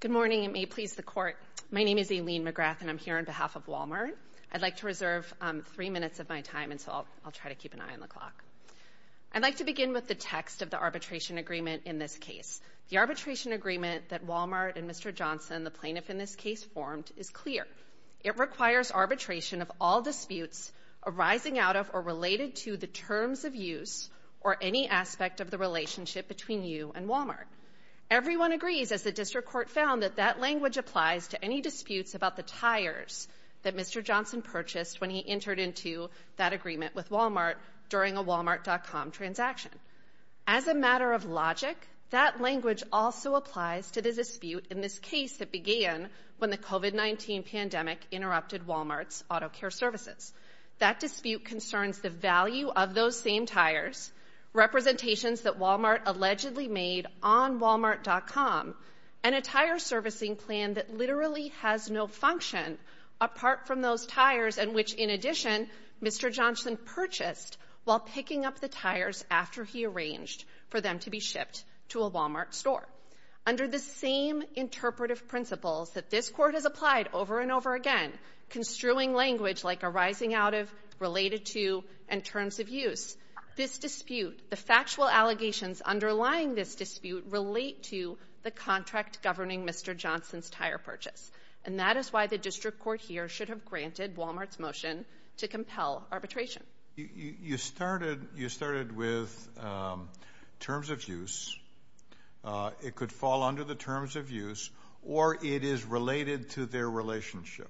Good morning, and may it please the Court, my name is Aileen McGrath, and I'm here on behalf of Walmart. I'd like to reserve three minutes of my time, and so I'll try to keep an eye on the clock. I'd like to begin with the text of the arbitration agreement in this case. The arbitration agreement that Walmart and Mr. Johnson, the plaintiff in this case, formed is clear. It requires arbitration of all disputes arising out of or related to the terms of use or any aspect of the relationship between you and Walmart. Everyone agrees, as the District Court found, that that language applies to any disputes about the tires that Mr. Johnson purchased when he entered into that agreement with Walmart during a Walmart.com transaction. As a matter of logic, that language also applies to the dispute in this case that began when the COVID-19 pandemic interrupted Walmart's auto care services. That dispute concerns the value of those same tires, representations that Walmart allegedly made on Walmart.com, and a tire servicing plan that literally has no function apart from those tires and which, in addition, Mr. Johnson purchased while picking up the tires after he arranged for them to be shipped to a Walmart store. Under the same interpretive principles that this Court has applied over and over again, construing language like arising out of, related to, and terms of use, this dispute, the factual allegations underlying this dispute, relate to the contract governing Mr. Johnson's tire purchase. And that is why the District Court here should have granted Walmart's motion to compel arbitration. You started with terms of use. It could fall under the terms of use, or it is related to their relationship.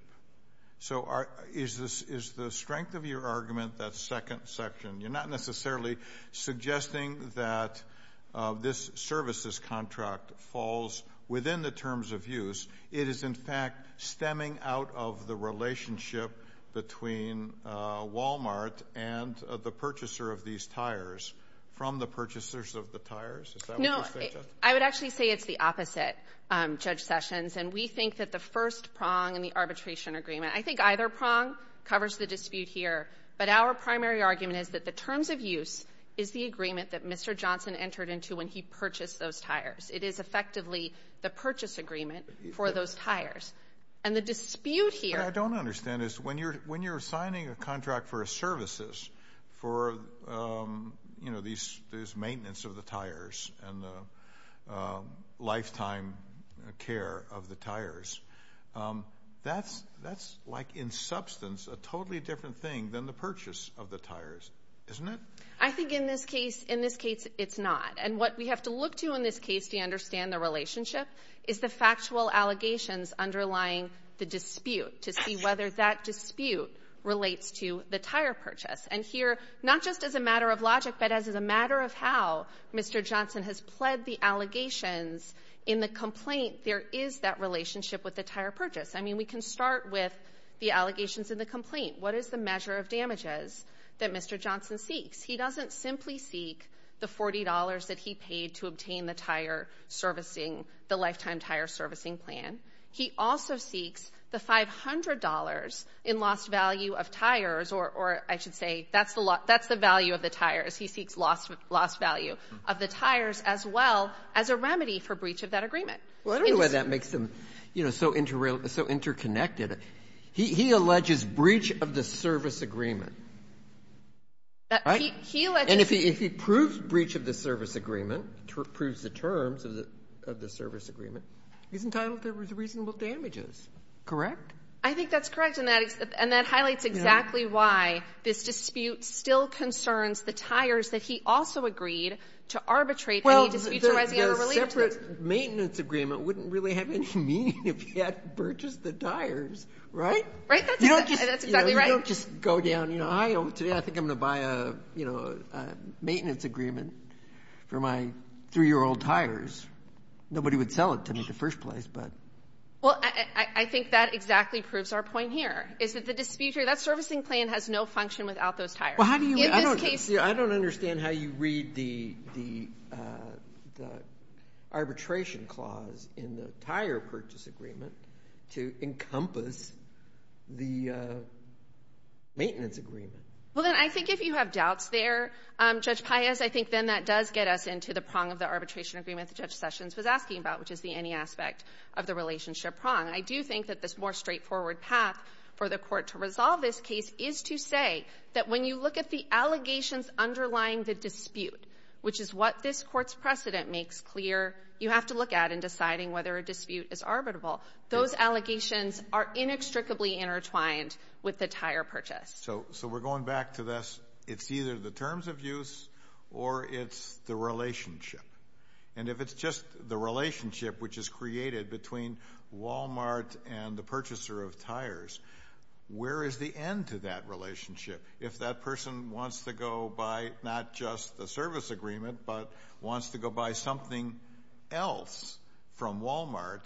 So is the strength of your argument that second section, you're not necessarily suggesting that this services contract falls within the terms of use, it is in fact stemming out of the relationship between Walmart and the purchaser of these tires from the purchasers of the tires? Is that what you're saying, Justice? No. I would actually say it's the opposite, Judge Sessions, and we think that the first prong in the arbitration agreement, I think either prong covers the dispute here, but our primary argument is that the terms of use is the agreement that Mr. Johnson entered into when he purchased those tires. It is effectively the purchase agreement for those tires. And the dispute here... What I don't understand is when you're signing a contract for services, for, you know, these maintenance of the tires and the lifetime care of the tires, that's like in substance a totally different thing than the purchase of the tires, isn't it? I think in this case, in this case, it's not. And what we have to look to in this case to understand the relationship is the factual allegations underlying the dispute, to see whether that dispute relates to the tire purchase. And here, not just as a matter of logic, but as a matter of how Mr. Johnson has pled the allegations in the complaint, there is that relationship with the tire purchase. I mean, we can start with the allegations in the complaint. What is the measure of damages that Mr. Johnson seeks? He doesn't simply seek the $40 that he paid to obtain the tire servicing, the lifetime tire servicing plan. He also seeks the $500 in lost value of tires or, I should say, that's the value of the tires. He seeks lost value of the tires as well as a remedy for breach of that agreement. Well, I don't know why that makes them, you know, so interconnected. He alleges breach of the service agreement. Right? He alleges... And if he proves breach of the service agreement, proves the terms of the service agreement, he's entitled to reasonable damages, correct? I think that's correct, and that highlights exactly why this dispute still concerns the tires that he also agreed to arbitrate when he disputes the rising ever relief tax. Well, the separate maintenance agreement wouldn't really have any meaning if he had purchased the tires, right? Right. That's exactly right. You don't just go down, you know, today I think I'm going to buy a, you know, a car maintenance agreement for my three-year-old tires. Nobody would sell it to me in the first place, but... Well, I think that exactly proves our point here, is that the dispute here, that servicing plan has no function without those tires. Well, how do you... In this case... I don't understand how you read the arbitration clause in the tire purchase agreement to encompass the maintenance agreement. Well, then I think if you have doubts there, Judge Paius, I think then that does get us into the prong of the arbitration agreement that Judge Sessions was asking about, which is the any aspect of the relationship prong. I do think that this more straightforward path for the court to resolve this case is to say that when you look at the allegations underlying the dispute, which is what this court's precedent makes clear, you have to look at in deciding whether a dispute is arbitrable. Those allegations are inextricably intertwined with the tire purchase. So we're going back to this, it's either the terms of use or it's the relationship. And if it's just the relationship which is created between Walmart and the purchaser of tires, where is the end to that relationship? If that person wants to go buy not just the service agreement, but wants to go buy something else from Walmart,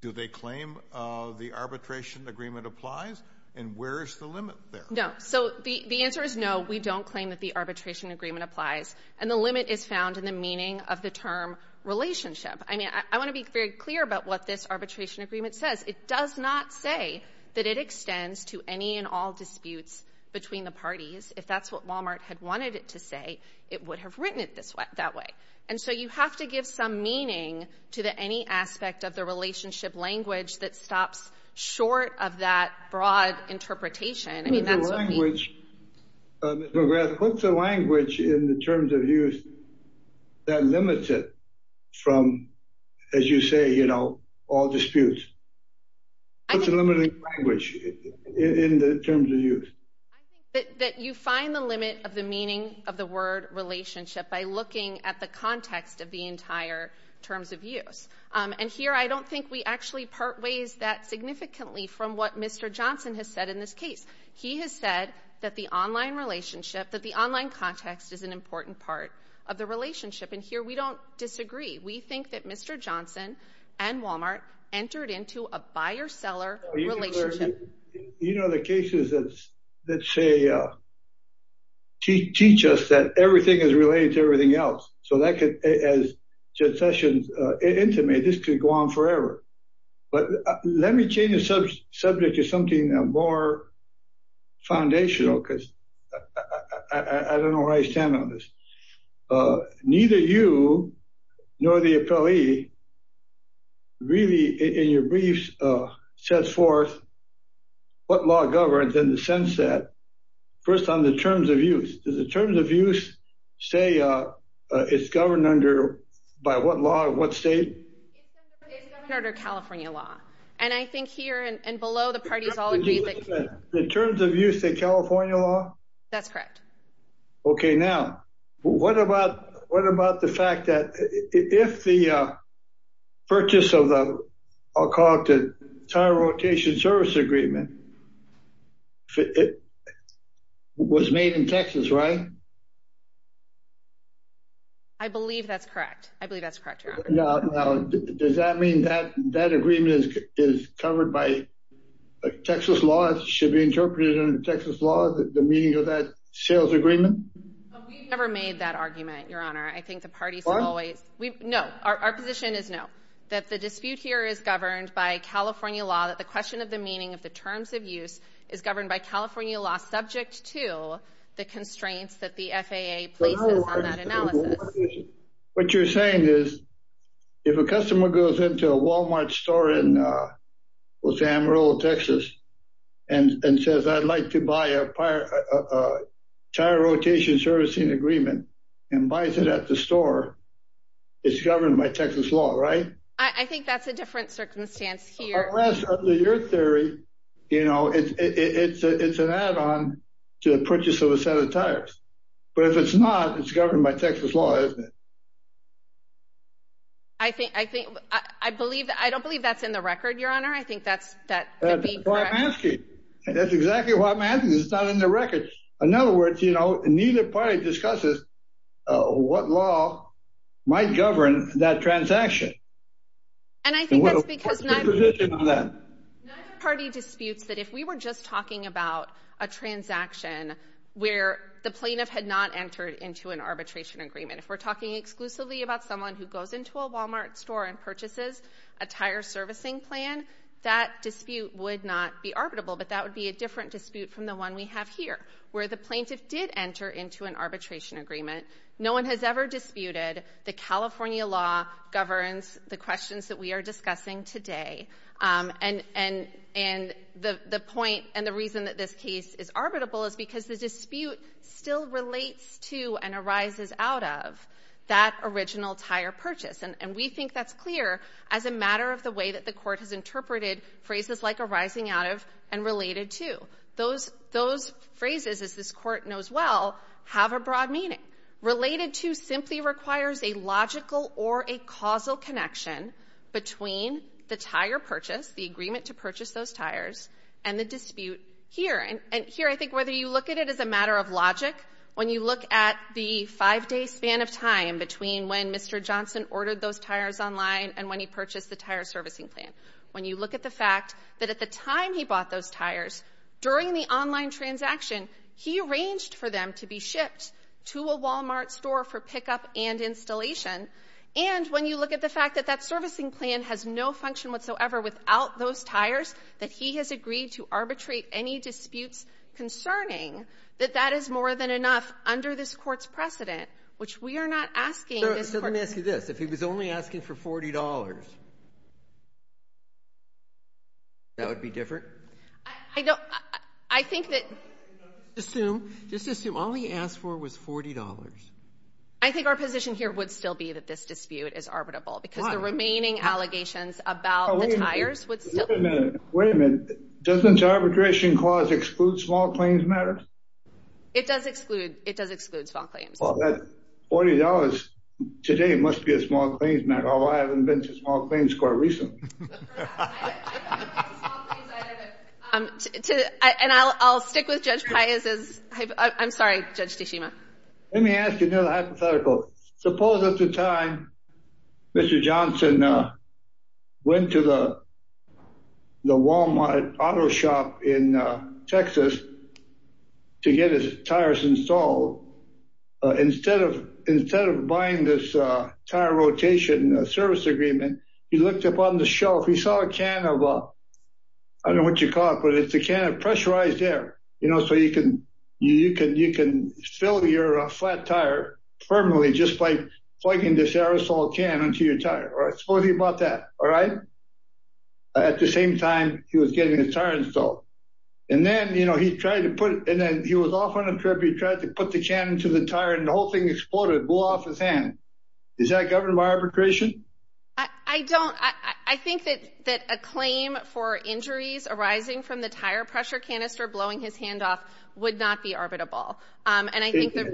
do they claim the arbitration agreement applies? And where is the limit there? No. So the answer is no, we don't claim that the arbitration agreement applies. And the limit is found in the meaning of the term relationship. I mean, I want to be very clear about what this arbitration agreement says. It does not say that it extends to any and all disputes between the parties. If that's what Walmart had wanted it to say, it would have written it this way — that way. And so you have to give some meaning to the any aspect of the relationship language that stops short of that broad interpretation. I mean, that's what we— But the language, Ms. McGrath, what's the language in the terms of use that limits it from, as you say, you know, all disputes? What's the limiting language in the terms of use? I think that you find the limit of the meaning of the word relationship by looking at the context of the entire terms of use. And here, I don't think we actually part ways that significantly from what Mr. Johnson has said in this case. He has said that the online relationship, that the online context is an important part of the relationship. And here we don't disagree. We think that Mr. Johnson and Walmart entered into a buyer-seller relationship. You know, the cases that say — teach us that everything is related to everything else. So that could, as Jed Sessions intimated, this could go on forever. But let me change the subject to something more foundational, because I don't know where I stand on this. Neither you nor the appellee really, in your briefs, sets forth what law governs in the sense that, first on the terms of use, does the terms of use say it's governed under — by what law, in what state? It's governed under California law. And I think here and below, the parties all agree that — The terms of use in California law? That's correct. OK. Now, what about the fact that if the purchase of the — I'll call it the — was made in Texas, right? I believe that's correct. I believe that's correct, Your Honor. Now, does that mean that that agreement is covered by Texas law? It should be interpreted under Texas law, the meaning of that sales agreement? We've never made that argument, Your Honor. I think the parties have always — What? No. Our position is no. That the dispute here is governed by California law, that the question of the meaning of the terms of use is governed by California law, subject to the constraints that the FAA places on that analysis. What you're saying is, if a customer goes into a Walmart store in Los Alamos, Texas, and says, I'd like to buy a tire rotation servicing agreement, and buys it at the store, it's governed by Texas law, right? I think that's a different circumstance here. Unless, under your theory, you know, it's an add-on to the purchase of a set of tires. But if it's not, it's governed by Texas law, isn't it? I think — I believe — I don't believe that's in the record, Your Honor. I think that's — That's why I'm asking. That's exactly why I'm asking. It's not in the record. In other words, you know, neither party discusses what law might govern that transaction. And I think that's because — Neither party disputes that if we were just talking about a transaction where the plaintiff had not entered into an arbitration agreement, if we're talking exclusively about someone who goes into a Walmart store and purchases a tire servicing plan, that dispute would not be arbitrable. But that would be a different dispute from the one we have here, where the plaintiff did enter into an arbitration agreement. No one has ever disputed the California law governs the questions that we are discussing today. And — and — and the — the point and the reason that this case is arbitrable is because the dispute still relates to and arises out of that original tire purchase. And we think that's clear as a matter of the way that the Court has interpreted phrases like arising out of and related to. Those — those phrases, as this Court knows well, have a broad meaning. Related to simply requires a logical or a causal connection between the tire purchase, the agreement to purchase those tires, and the dispute here. And here, I think whether you look at it as a matter of logic, when you look at the five-day span of time between when Mr. Johnson ordered those tires online and when he purchased the tire servicing plan, when you look at the fact that at the time he bought those tires, during the online transaction, he arranged for them to be shipped to a Walmart store for pickup and installation. And when you look at the fact that that servicing plan has no function whatsoever without those tires, that he has agreed to arbitrate any disputes concerning, that that is more than enough under this Court's precedent, which we are not asking this Court — So — so let me ask you this. If he was only asking for $40, that would be different? I don't — I think that — Assume — just assume all he asked for was $40. I think our position here would still be that this dispute is arbitrable, because the remaining allegations about the tires would still — Wait a minute. Wait a minute. Doesn't the arbitration clause exclude small claims matters? It does exclude — it does exclude small claims. Well, that $40 today must be a small claims matter, although I haven't been to small claims quite recently. I haven't been to small claims either, but — To — and I'll stick with Judge Paez as — I'm sorry, Judge Tsushima. Let me ask you another hypothetical. Suppose at the time Mr. Johnson went to the Walmart auto shop in Texas to get his tires installed. Instead of — instead of buying this tire rotation service agreement, he looked up on the shelf. He saw a can of — I don't know what you call it, but it's a can of pressurized air, you know, so you can — you can — you can fill your flat tire permanently just by plugging this aerosol can into your tire, right? Suppose he bought that, all right? At the same time he was getting his tire installed. And then, you know, he tried to put — and then he was off on a trip. He tried to put the can into the tire, and the whole thing exploded, blew off his hand. Is that governable arbitration? I don't — I think that a claim for injuries arising from the tire pressure canister blowing his hand off would not be arbitrable. And I think that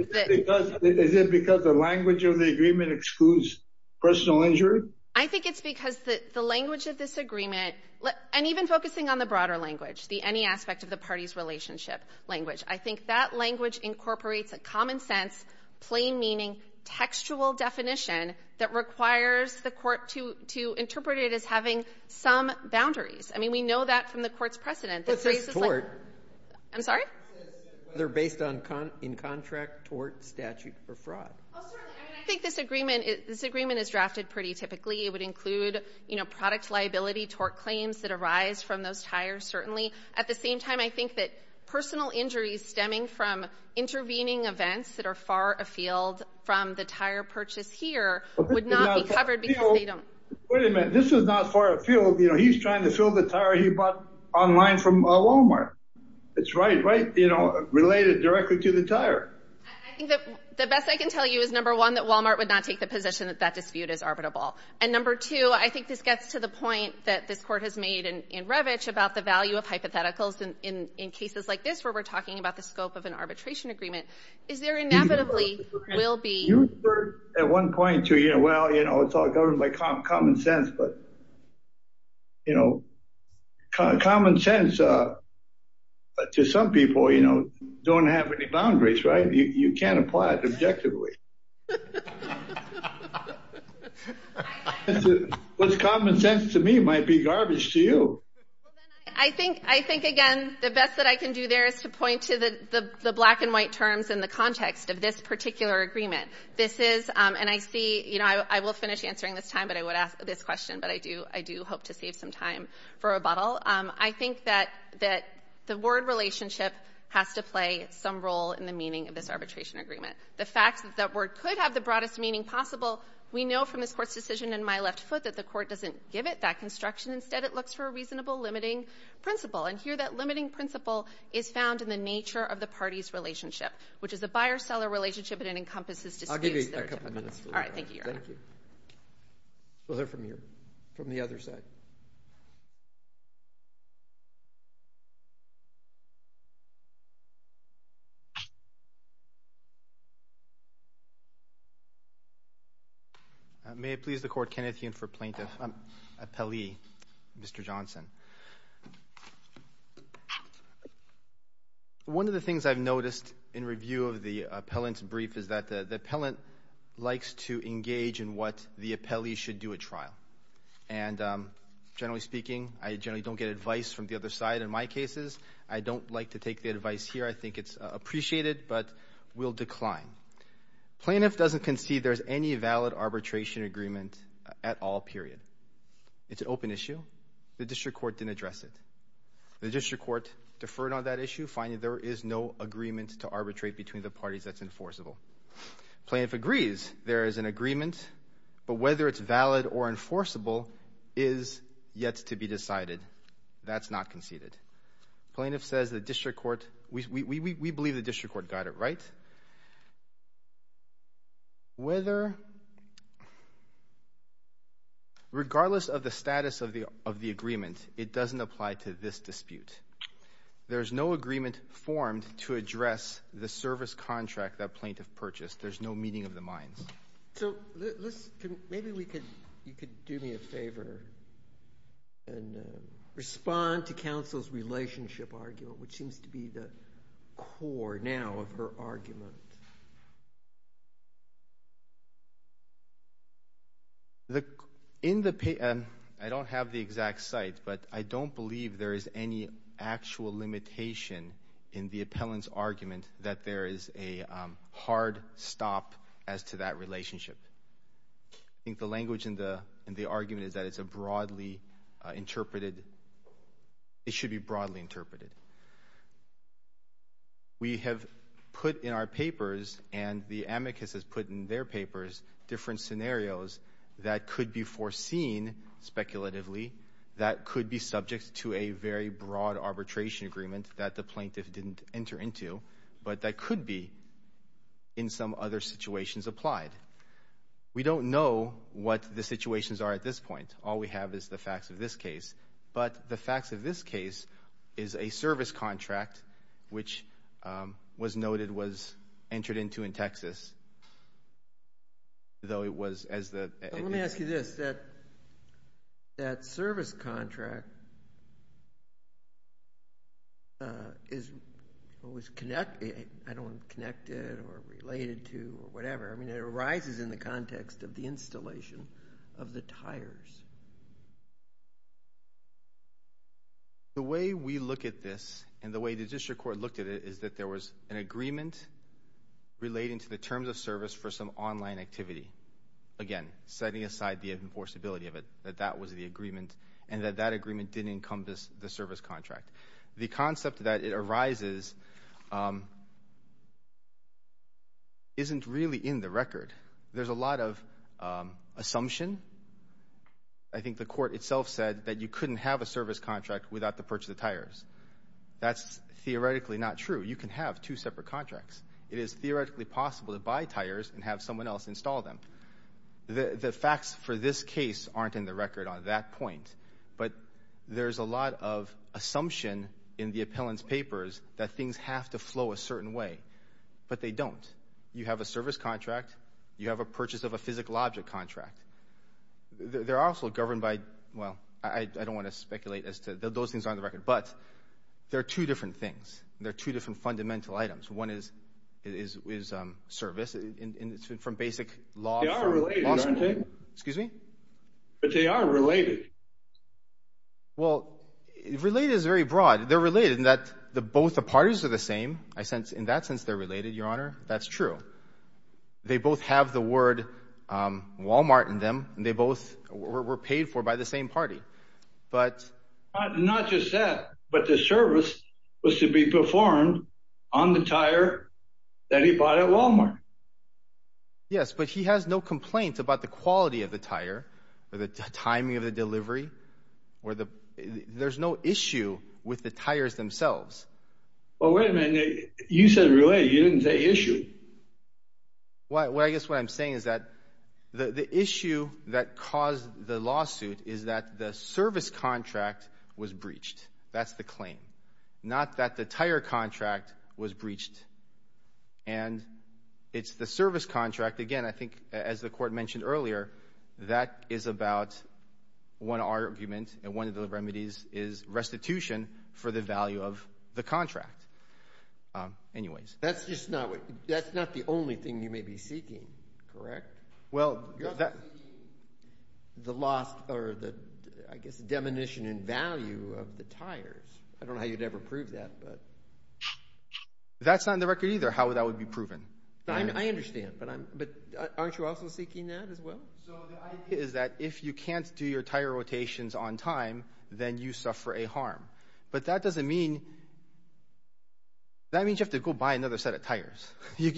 — Is it because the language of the agreement excludes personal injury? I think it's because the language of this agreement — and even focusing on the broader language, the any aspect of the party's relationship language — I think that language incorporates a common-sense, plain-meaning, textual definition that requires the court to — to interpret it as having some boundaries. I mean, we know that from the court's precedent. But this is tort. I'm sorry? They're based on — in contract, tort, statute, or fraud. Oh, certainly. I mean, I think this agreement — this agreement is drafted pretty typically. It would include, you know, product liability, tort claims that arise from those tires, certainly. At the same time, I think that personal injuries stemming from intervening events that are far afield from the tire purchase here would not be covered because they don't — Wait a minute. This is not far afield. You know, he's trying to fill the tire he bought online from Walmart. It's right — right, you know, related directly to the tire. I think that the best I can tell you is, number one, that Walmart would not take the position that that dispute is arbitrable. And number two, I think this gets to the point that this court has made in Revich about the value of hypotheticals in cases like this, where we're talking about the scope of an arbitration agreement. Is there inevitably will be — You referred at one point to, you know, well, you know, it's all governed by common sense. But, you know, common sense to some people, you know, don't have any boundaries, right? You can't apply it objectively. What's common sense to me might be garbage to you. I think — I think, again, the best that I can do there is to point to the black-and-white terms in the context of this particular agreement. This is — and I see — you know, I will finish answering this time, but I would ask this question. But I do — I do hope to save some time for rebuttal. I think that the Ward relationship has to play some role in the meaning of this arbitration agreement. The fact that Ward could have the broadest meaning possible, we know from this Court's decision in my left foot that the Court doesn't give it that construction. Instead, it looks for a reasonable limiting principle. And here, that limiting principle is found in the nature of the party's relationship, which is a buyer-seller relationship, but it encompasses disputes that are typical. I'll give you a couple minutes for that. All right. Thank you, Your Honor. Thank you. We'll hear from your — from the other side. May it please the Court, for plaintiff — appellee, Mr. Johnson. One of the things I've noticed in review of the appellant's brief is that the appellant likes to engage in what the appellee should do at trial. And generally speaking, I generally don't get advice from the other side. In my cases, I don't like to take the advice here. I think it's appreciated, but will decline. Plaintiff doesn't concede there's any valid arbitration agreement at all, period. It's an open issue. The district court didn't address it. The district court deferred on that issue, finding there is no agreement to arbitrate between the parties that's enforceable. Plaintiff agrees there is an agreement, but whether it's valid or enforceable is yet to be decided. That's not conceded. Plaintiff says the district court — we believe the district court got it right. But whether — regardless of the status of the agreement, it doesn't apply to this dispute. There's no agreement formed to address the service contract that plaintiff purchased. There's no meeting of the minds. So let's — maybe we could — you could do me a favor and respond to counsel's relationship argument, which seems to be the core now of her argument. In the — I don't have the exact site, but I don't believe there is any actual limitation in the appellant's argument that there is a hard stop as to that relationship. I think the language in the argument is that it's a broadly interpreted — it should be broadly interpreted. We have put in our papers and the amicus has put in their papers different scenarios that could be foreseen speculatively, that could be subject to a very broad arbitration agreement that the plaintiff didn't enter into, but that could be in some other situations applied. We don't know what the situations are at this point. All we have is the facts of this case. But the facts of this case is a service contract, which was noted was entered into in Texas, though it was as the — Let me ask you this. That service contract is always connected — I don't want to connect it or relate it to whatever. I mean, it arises in the context of the installation of the tires. The way we look at this and the way the district court looked at it is that there was an agreement relating to the terms of service for some online activity. Again, setting aside the enforceability of it, that that was the agreement and that that agreement didn't encompass the service contract. The concept that it arises isn't really in the record. There's a lot of assumption. I think the court itself said that you couldn't have a service contract without the purchase of tires. That's theoretically not true. You can have two separate contracts. It is theoretically possible to buy tires and have someone else install them. The facts for this case aren't in the record on that point, but there's a lot of assumption in the appellant's papers that things have to flow a certain way, but they don't. You have a service contract. You have a purchase of a physical object contract. They're also governed by... Well, I don't want to speculate as to... Those things aren't on the record, but there are two different things. There are two different fundamental items. One is service from basic law. They are related, aren't they? Excuse me? But they are related. Well, related is very broad. They're related in that both the parties are the same. I sense in that sense they're related, Your Honor. That's true. They both have the word Walmart in them, and they both were paid for by the same party. Not just that, but the service was to be performed on the tire that he bought at Walmart. Yes, but he has no complaint about the quality of the tire or the timing of the delivery. There's no issue with the tires themselves. Well, wait a minute. You said related. You didn't say issue. Well, I guess what I'm saying is that the issue that caused the lawsuit is that the service contract was breached. That's the claim. Not that the tire contract was breached. And it's the service contract. Again, I think as the court mentioned earlier, that is about one argument, and one of the remedies is restitution for the value of the contract. Anyways. That's not the only thing you may be seeking, correct? Well, you're not seeking the lost or the, I guess, the diminution in value of the tires. I don't know how you'd ever prove that. That's not in the record either how that would be proven. I understand, but aren't you also seeking that as well? So the idea is that if you can't do your tire rotations on time, then you suffer a harm. But that doesn't mean... You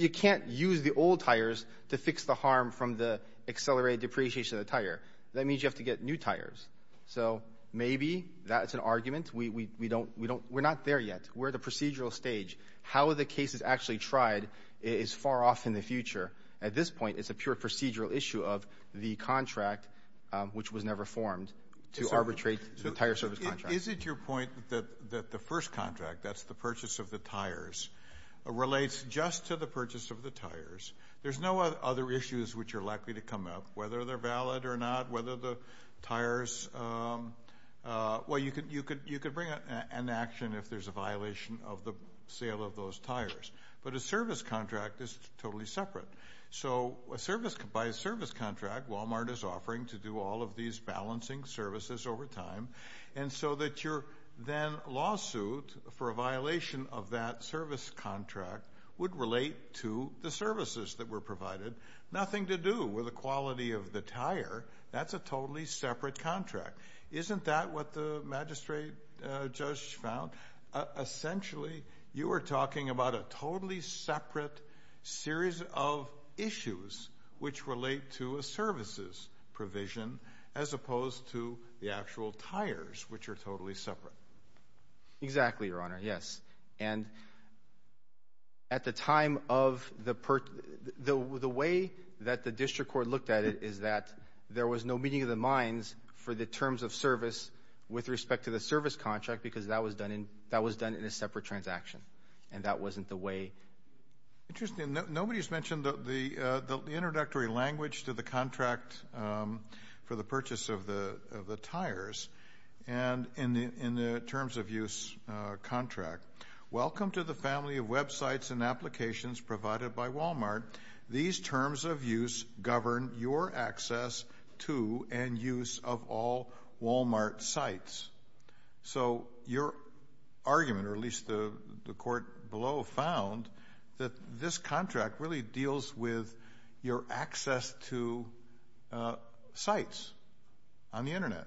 can't use the old tires to fix the harm from the accelerated depreciation of the tire. That means you have to get new tires. So maybe that's an argument. We're not there yet. We're at the procedural stage. How the case is actually tried is far off in the future. At this point, it's a pure procedural issue of the contract, which was never formed, to arbitrate the tire service contract. Is it your point that the first contract, that's the purchase of the tires, relates just to the purchase of the tires? There's no other issues which are likely to come up, whether they're valid or not, whether the tires... Well, you could bring an action if there's a violation of the sale of those tires. But a service contract is totally separate. So by a service contract, Walmart is offering to do all of these balancing services over time. And so that your then lawsuit for a violation of that service contract would relate to the services that were provided. Nothing to do with the quality of the tire. That's a totally separate contract. Isn't that what the magistrate judge found? Essentially, you were talking about a totally separate series of issues which relate to a services provision, as opposed to the actual tires, which are totally separate. Exactly, Your Honor, yes. And at the time of the... The way that the district court looked at it is that there was no meeting of the minds for the terms of service with respect to the service contract because that was done in a separate transaction. And that wasn't the way... Interesting. Nobody's mentioned the introductory language to the contract for the purchase of the tires. And in the terms of use contract, welcome to the family of websites and applications provided by Walmart. These terms of use govern your access to and use of all Walmart sites. So your argument, or at least the court below, found that this contract really deals with your access to sites on the internet.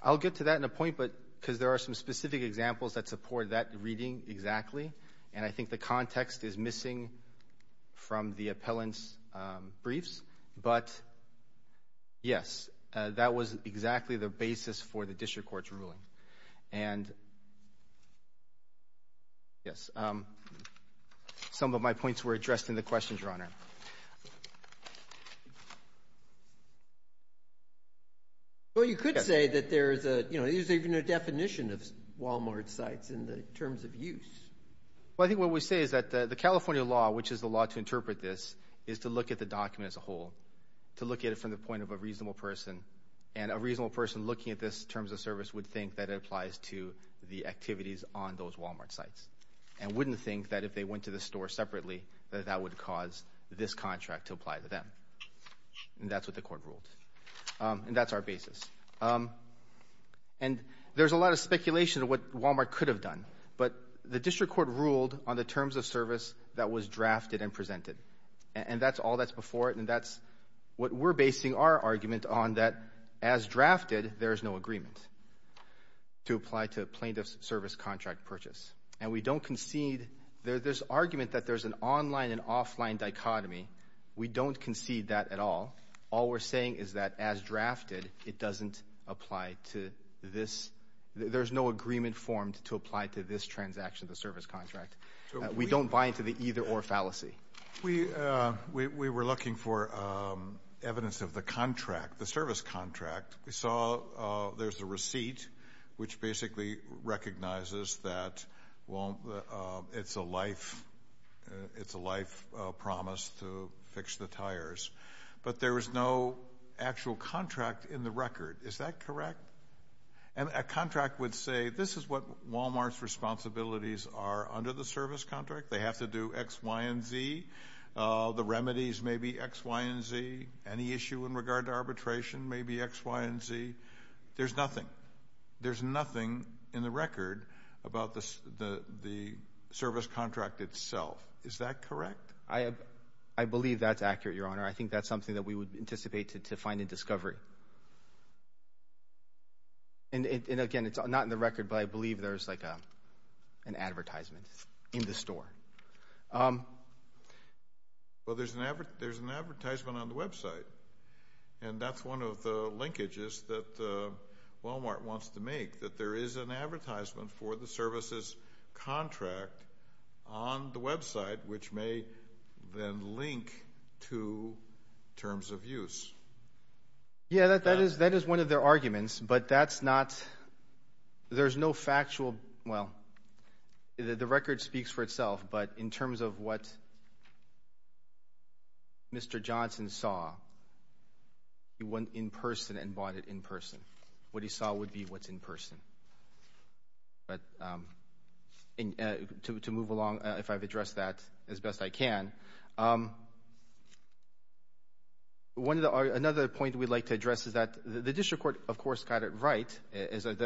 I'll get to that in a point, but because there are some specific examples that support that reading exactly. And I think the context is missing from the appellant's briefs. But yes, that was exactly the basis for the district court's ruling. were addressed in the questions, Your Honor. Well, you could say that there is a, you know, there's even a definition of Walmart sites in the terms of use. Well, I think what we say is that the California law, which is the law to interpret this, is to look at the document as a whole, to look at it from the point of a reasonable person. And a reasonable person looking at this terms of service would think that it applies to the activities on those Walmart sites. that that would cause a problem. And I think that's what we're trying to do. this contract to apply to them. And that's what the court ruled. And that's our basis. And there's a lot of speculation of what Walmart could have done. But the district court ruled on the terms of service that was drafted and presented. And that's all that's before it. And that's what we're basing our argument on that as drafted, there is no agreement to apply to plaintiff's service contract purchase. And we don't concede there's this argument that there's an online and offline dichotomy. We don't concede that at all. All we're saying is that as drafted, it doesn't apply to this. There's no agreement formed to apply to this transaction, the service contract. We don't buy into the either or fallacy. We were looking for evidence of the contract, the service contract. We saw there's a receipt which basically recognizes that it's a life promise to fix the tires. But there was no actual contract in the record. Is that correct? And a contract would say, this is what Walmart's responsibilities are under the service contract. They have to do X, Y, and Z. The remedies may be X, Y, and Z. Any issue in regard to arbitration may be X, Y, and Z. There's nothing. There's nothing in the record about the service contract itself. Is that correct? I believe that's accurate, Your Honor. I think that's something that we would anticipate to find in discovery. And again, it's not in the record, but I believe there's like an advertisement in the store. Well, there's an advertisement on the website. And that's one of the linkages that Walmart wants to make, that there is an advertisement for the services contract on the website, which may then link to terms of use. Yeah, that is one of their arguments. But that's not, there's no factual, well, the record speaks for itself. But in terms of what Mr. Johnson saw, he went in person and bought it in person. What he saw would be what's in person. But to move along, if I've addressed that as best I can. Another point we'd like to address is that the district court, of course, got it right, is the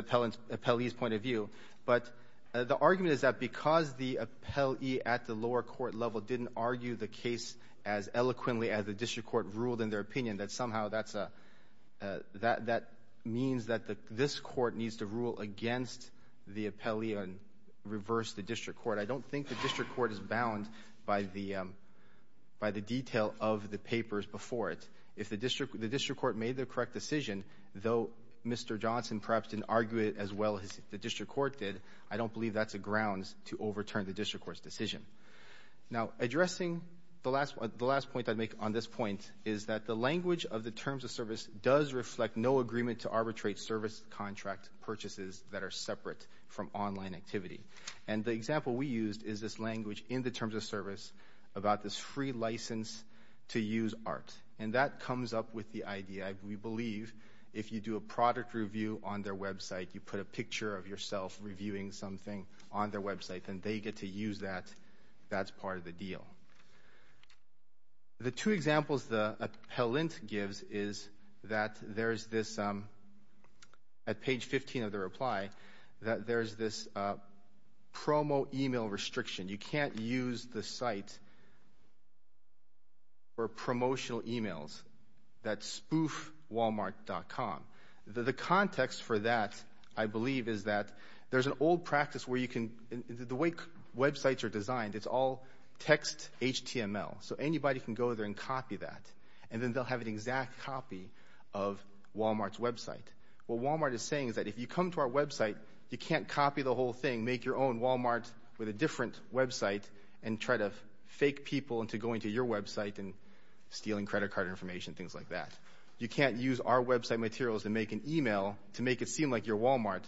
appellee's point of view. But the argument is that because the appellee at the lower court level didn't argue the case as eloquently as the district court ruled in their opinion, that somehow that means that this court needs to rule against the appellee and reverse the district court. I don't think the district court is bound by the detail of the papers before it. If the district court made the correct decision, though Mr. Johnson perhaps didn't argue it as well as the district court did, I don't believe that's a grounds to overturn the district court's decision. Now, addressing the last point I'd make on this point is that the language of the terms of service does reflect no agreement to arbitrate service contract purchases that are separate from online activity. And the example we used is this language in the terms of service about this free license to use art. And that comes up with the idea, we believe if you do a product review on their website, you put a picture of yourself reviewing something on their website, then they get to use that, that's part of the deal. The two examples the appellant gives is that there's this, at page 15 of the reply, that there's this promo email restriction. You can't use the site for promotional emails, that spoof walmart.com. The context for that, I believe, is that there's an old practice where you can, the way websites are designed, it's all text HTML. So anybody can go there and copy that, and then they'll have an exact copy of Walmart's website. What Walmart is saying is that if you come to our website, you can't copy the whole thing, make your own Walmart with a different website and try to fake people into going to your website and stealing credit card information, things like that. You can't use our website materials and make an email to make it seem like you're Walmart.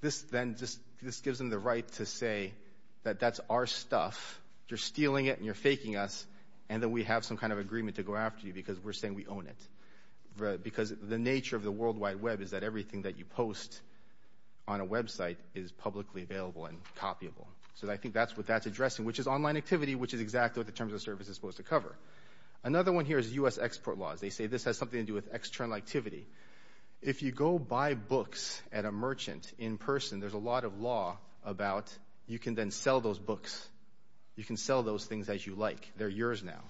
This then just, this gives them the right to say that that's our stuff, you're stealing it and you're faking us, and that we have some kind of agreement to go after you because we're saying we own it. Because the nature of the World Wide Web is that everything that you post on a website is publicly available and copyable. So I think that's what that's addressing, which is online activity, which is exactly what the Terms of Service is supposed to cover. Another one here is U.S. export laws. They say this has something to do with external activity. If you go buy books at a merchant in person, there's a lot of law about you can then sell those books. You can sell those things as you like. They're yours now.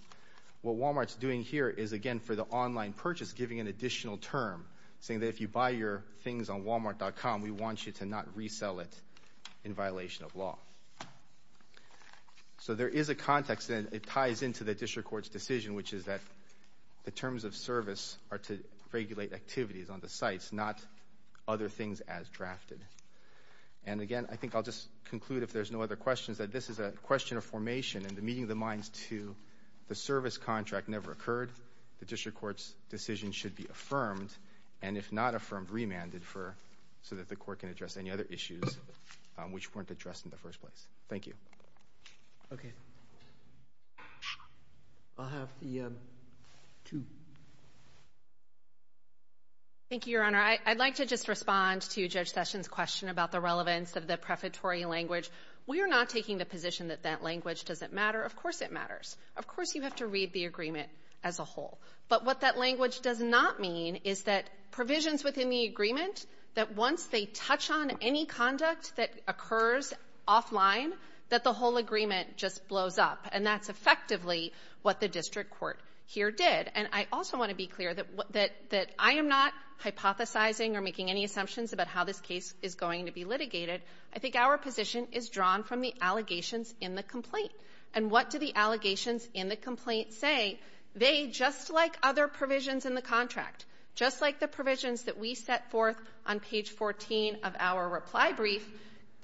What Walmart's doing here is, again, for the online purchase, giving an additional term, saying that if you buy your things on walmart.com, we want you to not resell it in violation of law. So there is a context, and it ties into the district court's decision, which is that the Terms of Service are to regulate activities on the sites, not other things as drafted. And again, I think I'll just conclude if there's no other questions, that this is a question of formation and the meeting of the minds to the service contract never occurred. The district court's decision should be affirmed and if not affirmed, remanded so that the court can address any other issues which weren't addressed in the first place. Thank you. Okay. I'll have the two. Thank you, Your Honor. I'd like to just respond to Judge Sessions' question about the relevance of the prefatory language. We are not taking the position that that language doesn't matter. Of course, it matters. Of course, you have to read the agreement as a whole. But what that language does not mean is that provisions within the agreement, that once they touch on any conduct that occurs offline, that the whole agreement just blows up. And that's effectively what the district court here did. And I also want to be clear that I am not hypothesizing or making any assumptions about how this case is going to be litigated. I think our position is drawn from the allegations in the complaint. And what do the allegations in the complaint say? They, just like other provisions in the contract, just like the provisions that we set forth on page 14 of our reply brief,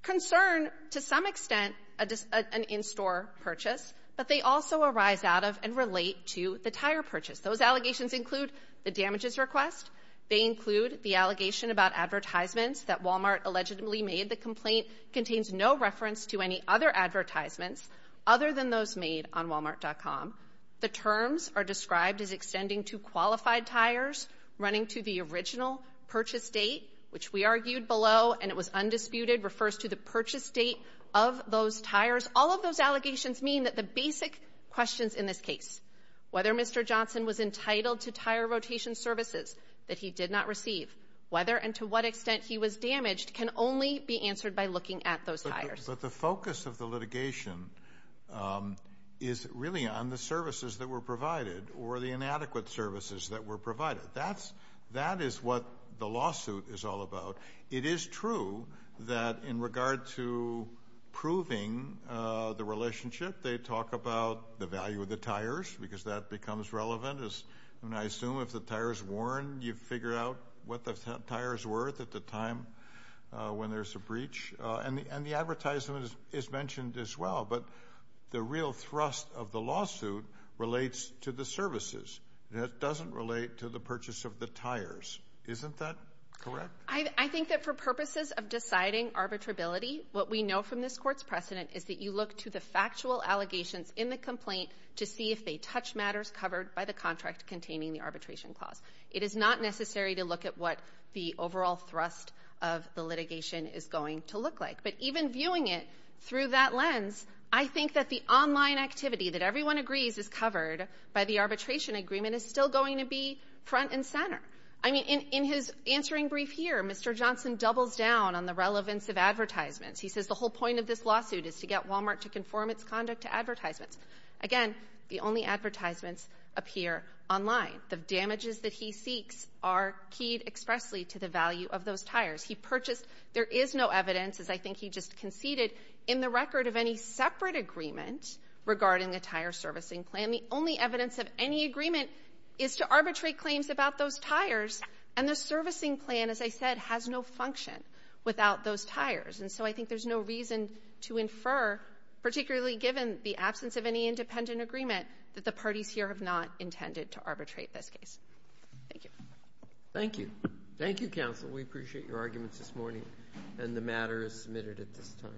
concern to some extent an in-store purchase, but they also arise out of and relate to the tire purchase. Those allegations include the damages request. They include the allegation about advertisements that Walmart allegedly made. The complaint contains no reference to any other advertisements other than those made on walmart.com. The terms are described as extending to qualified tires, running to the original purchase date, which we argued below and it was undisputed, refers to the purchase date of those tires. All of those allegations mean that the basic questions in this case, whether Mr. Johnson was entitled to tire rotation services, he did not receive, whether and to what extent he was damaged can only be answered by looking at those tires. But the focus of the litigation is really on the services that were provided or the inadequate services that were provided. That is what the lawsuit is all about. It is true that in regard to proving the relationship, they talk about the value of the tires because that becomes relevant. I assume if the tire is worn, you figure out what the tire is worth at the time when there's a breach. And the advertisement is mentioned as well, but the real thrust of the lawsuit relates to the services. That doesn't relate to the purchase of the tires. Isn't that correct? I think that for purposes of deciding arbitrability, what we know from this court's precedent is that you look to the factual allegations in the complaint to see if they touch matters covered by the contract containing the arbitration clause. It is not necessary to look at what the overall thrust of the litigation is going to look like. But even viewing it through that lens, I think that the online activity that everyone agrees is covered by the arbitration agreement is still going to be front and center. I mean, in his answering brief here, Mr. Johnson doubles down on the relevance of advertisements. He says the whole point of this lawsuit is to get Walmart to conform its conduct to advertisements. Again, the only advertisements appear online. The damages that he seeks are keyed expressly to the value of those tires. He purchased. There is no evidence, as I think he just conceded, in the record of any separate agreement regarding the tire servicing plan. The only evidence of any agreement is to arbitrate claims about those tires. And the servicing plan, as I said, has no function without those tires. And so I think there's no reason to infer, particularly given the absence of any independent agreement, that the parties here have not intended to arbitrate this case. Thank you. Thank you. Thank you, counsel. We appreciate your arguments this morning. And the matter is submitted at this time.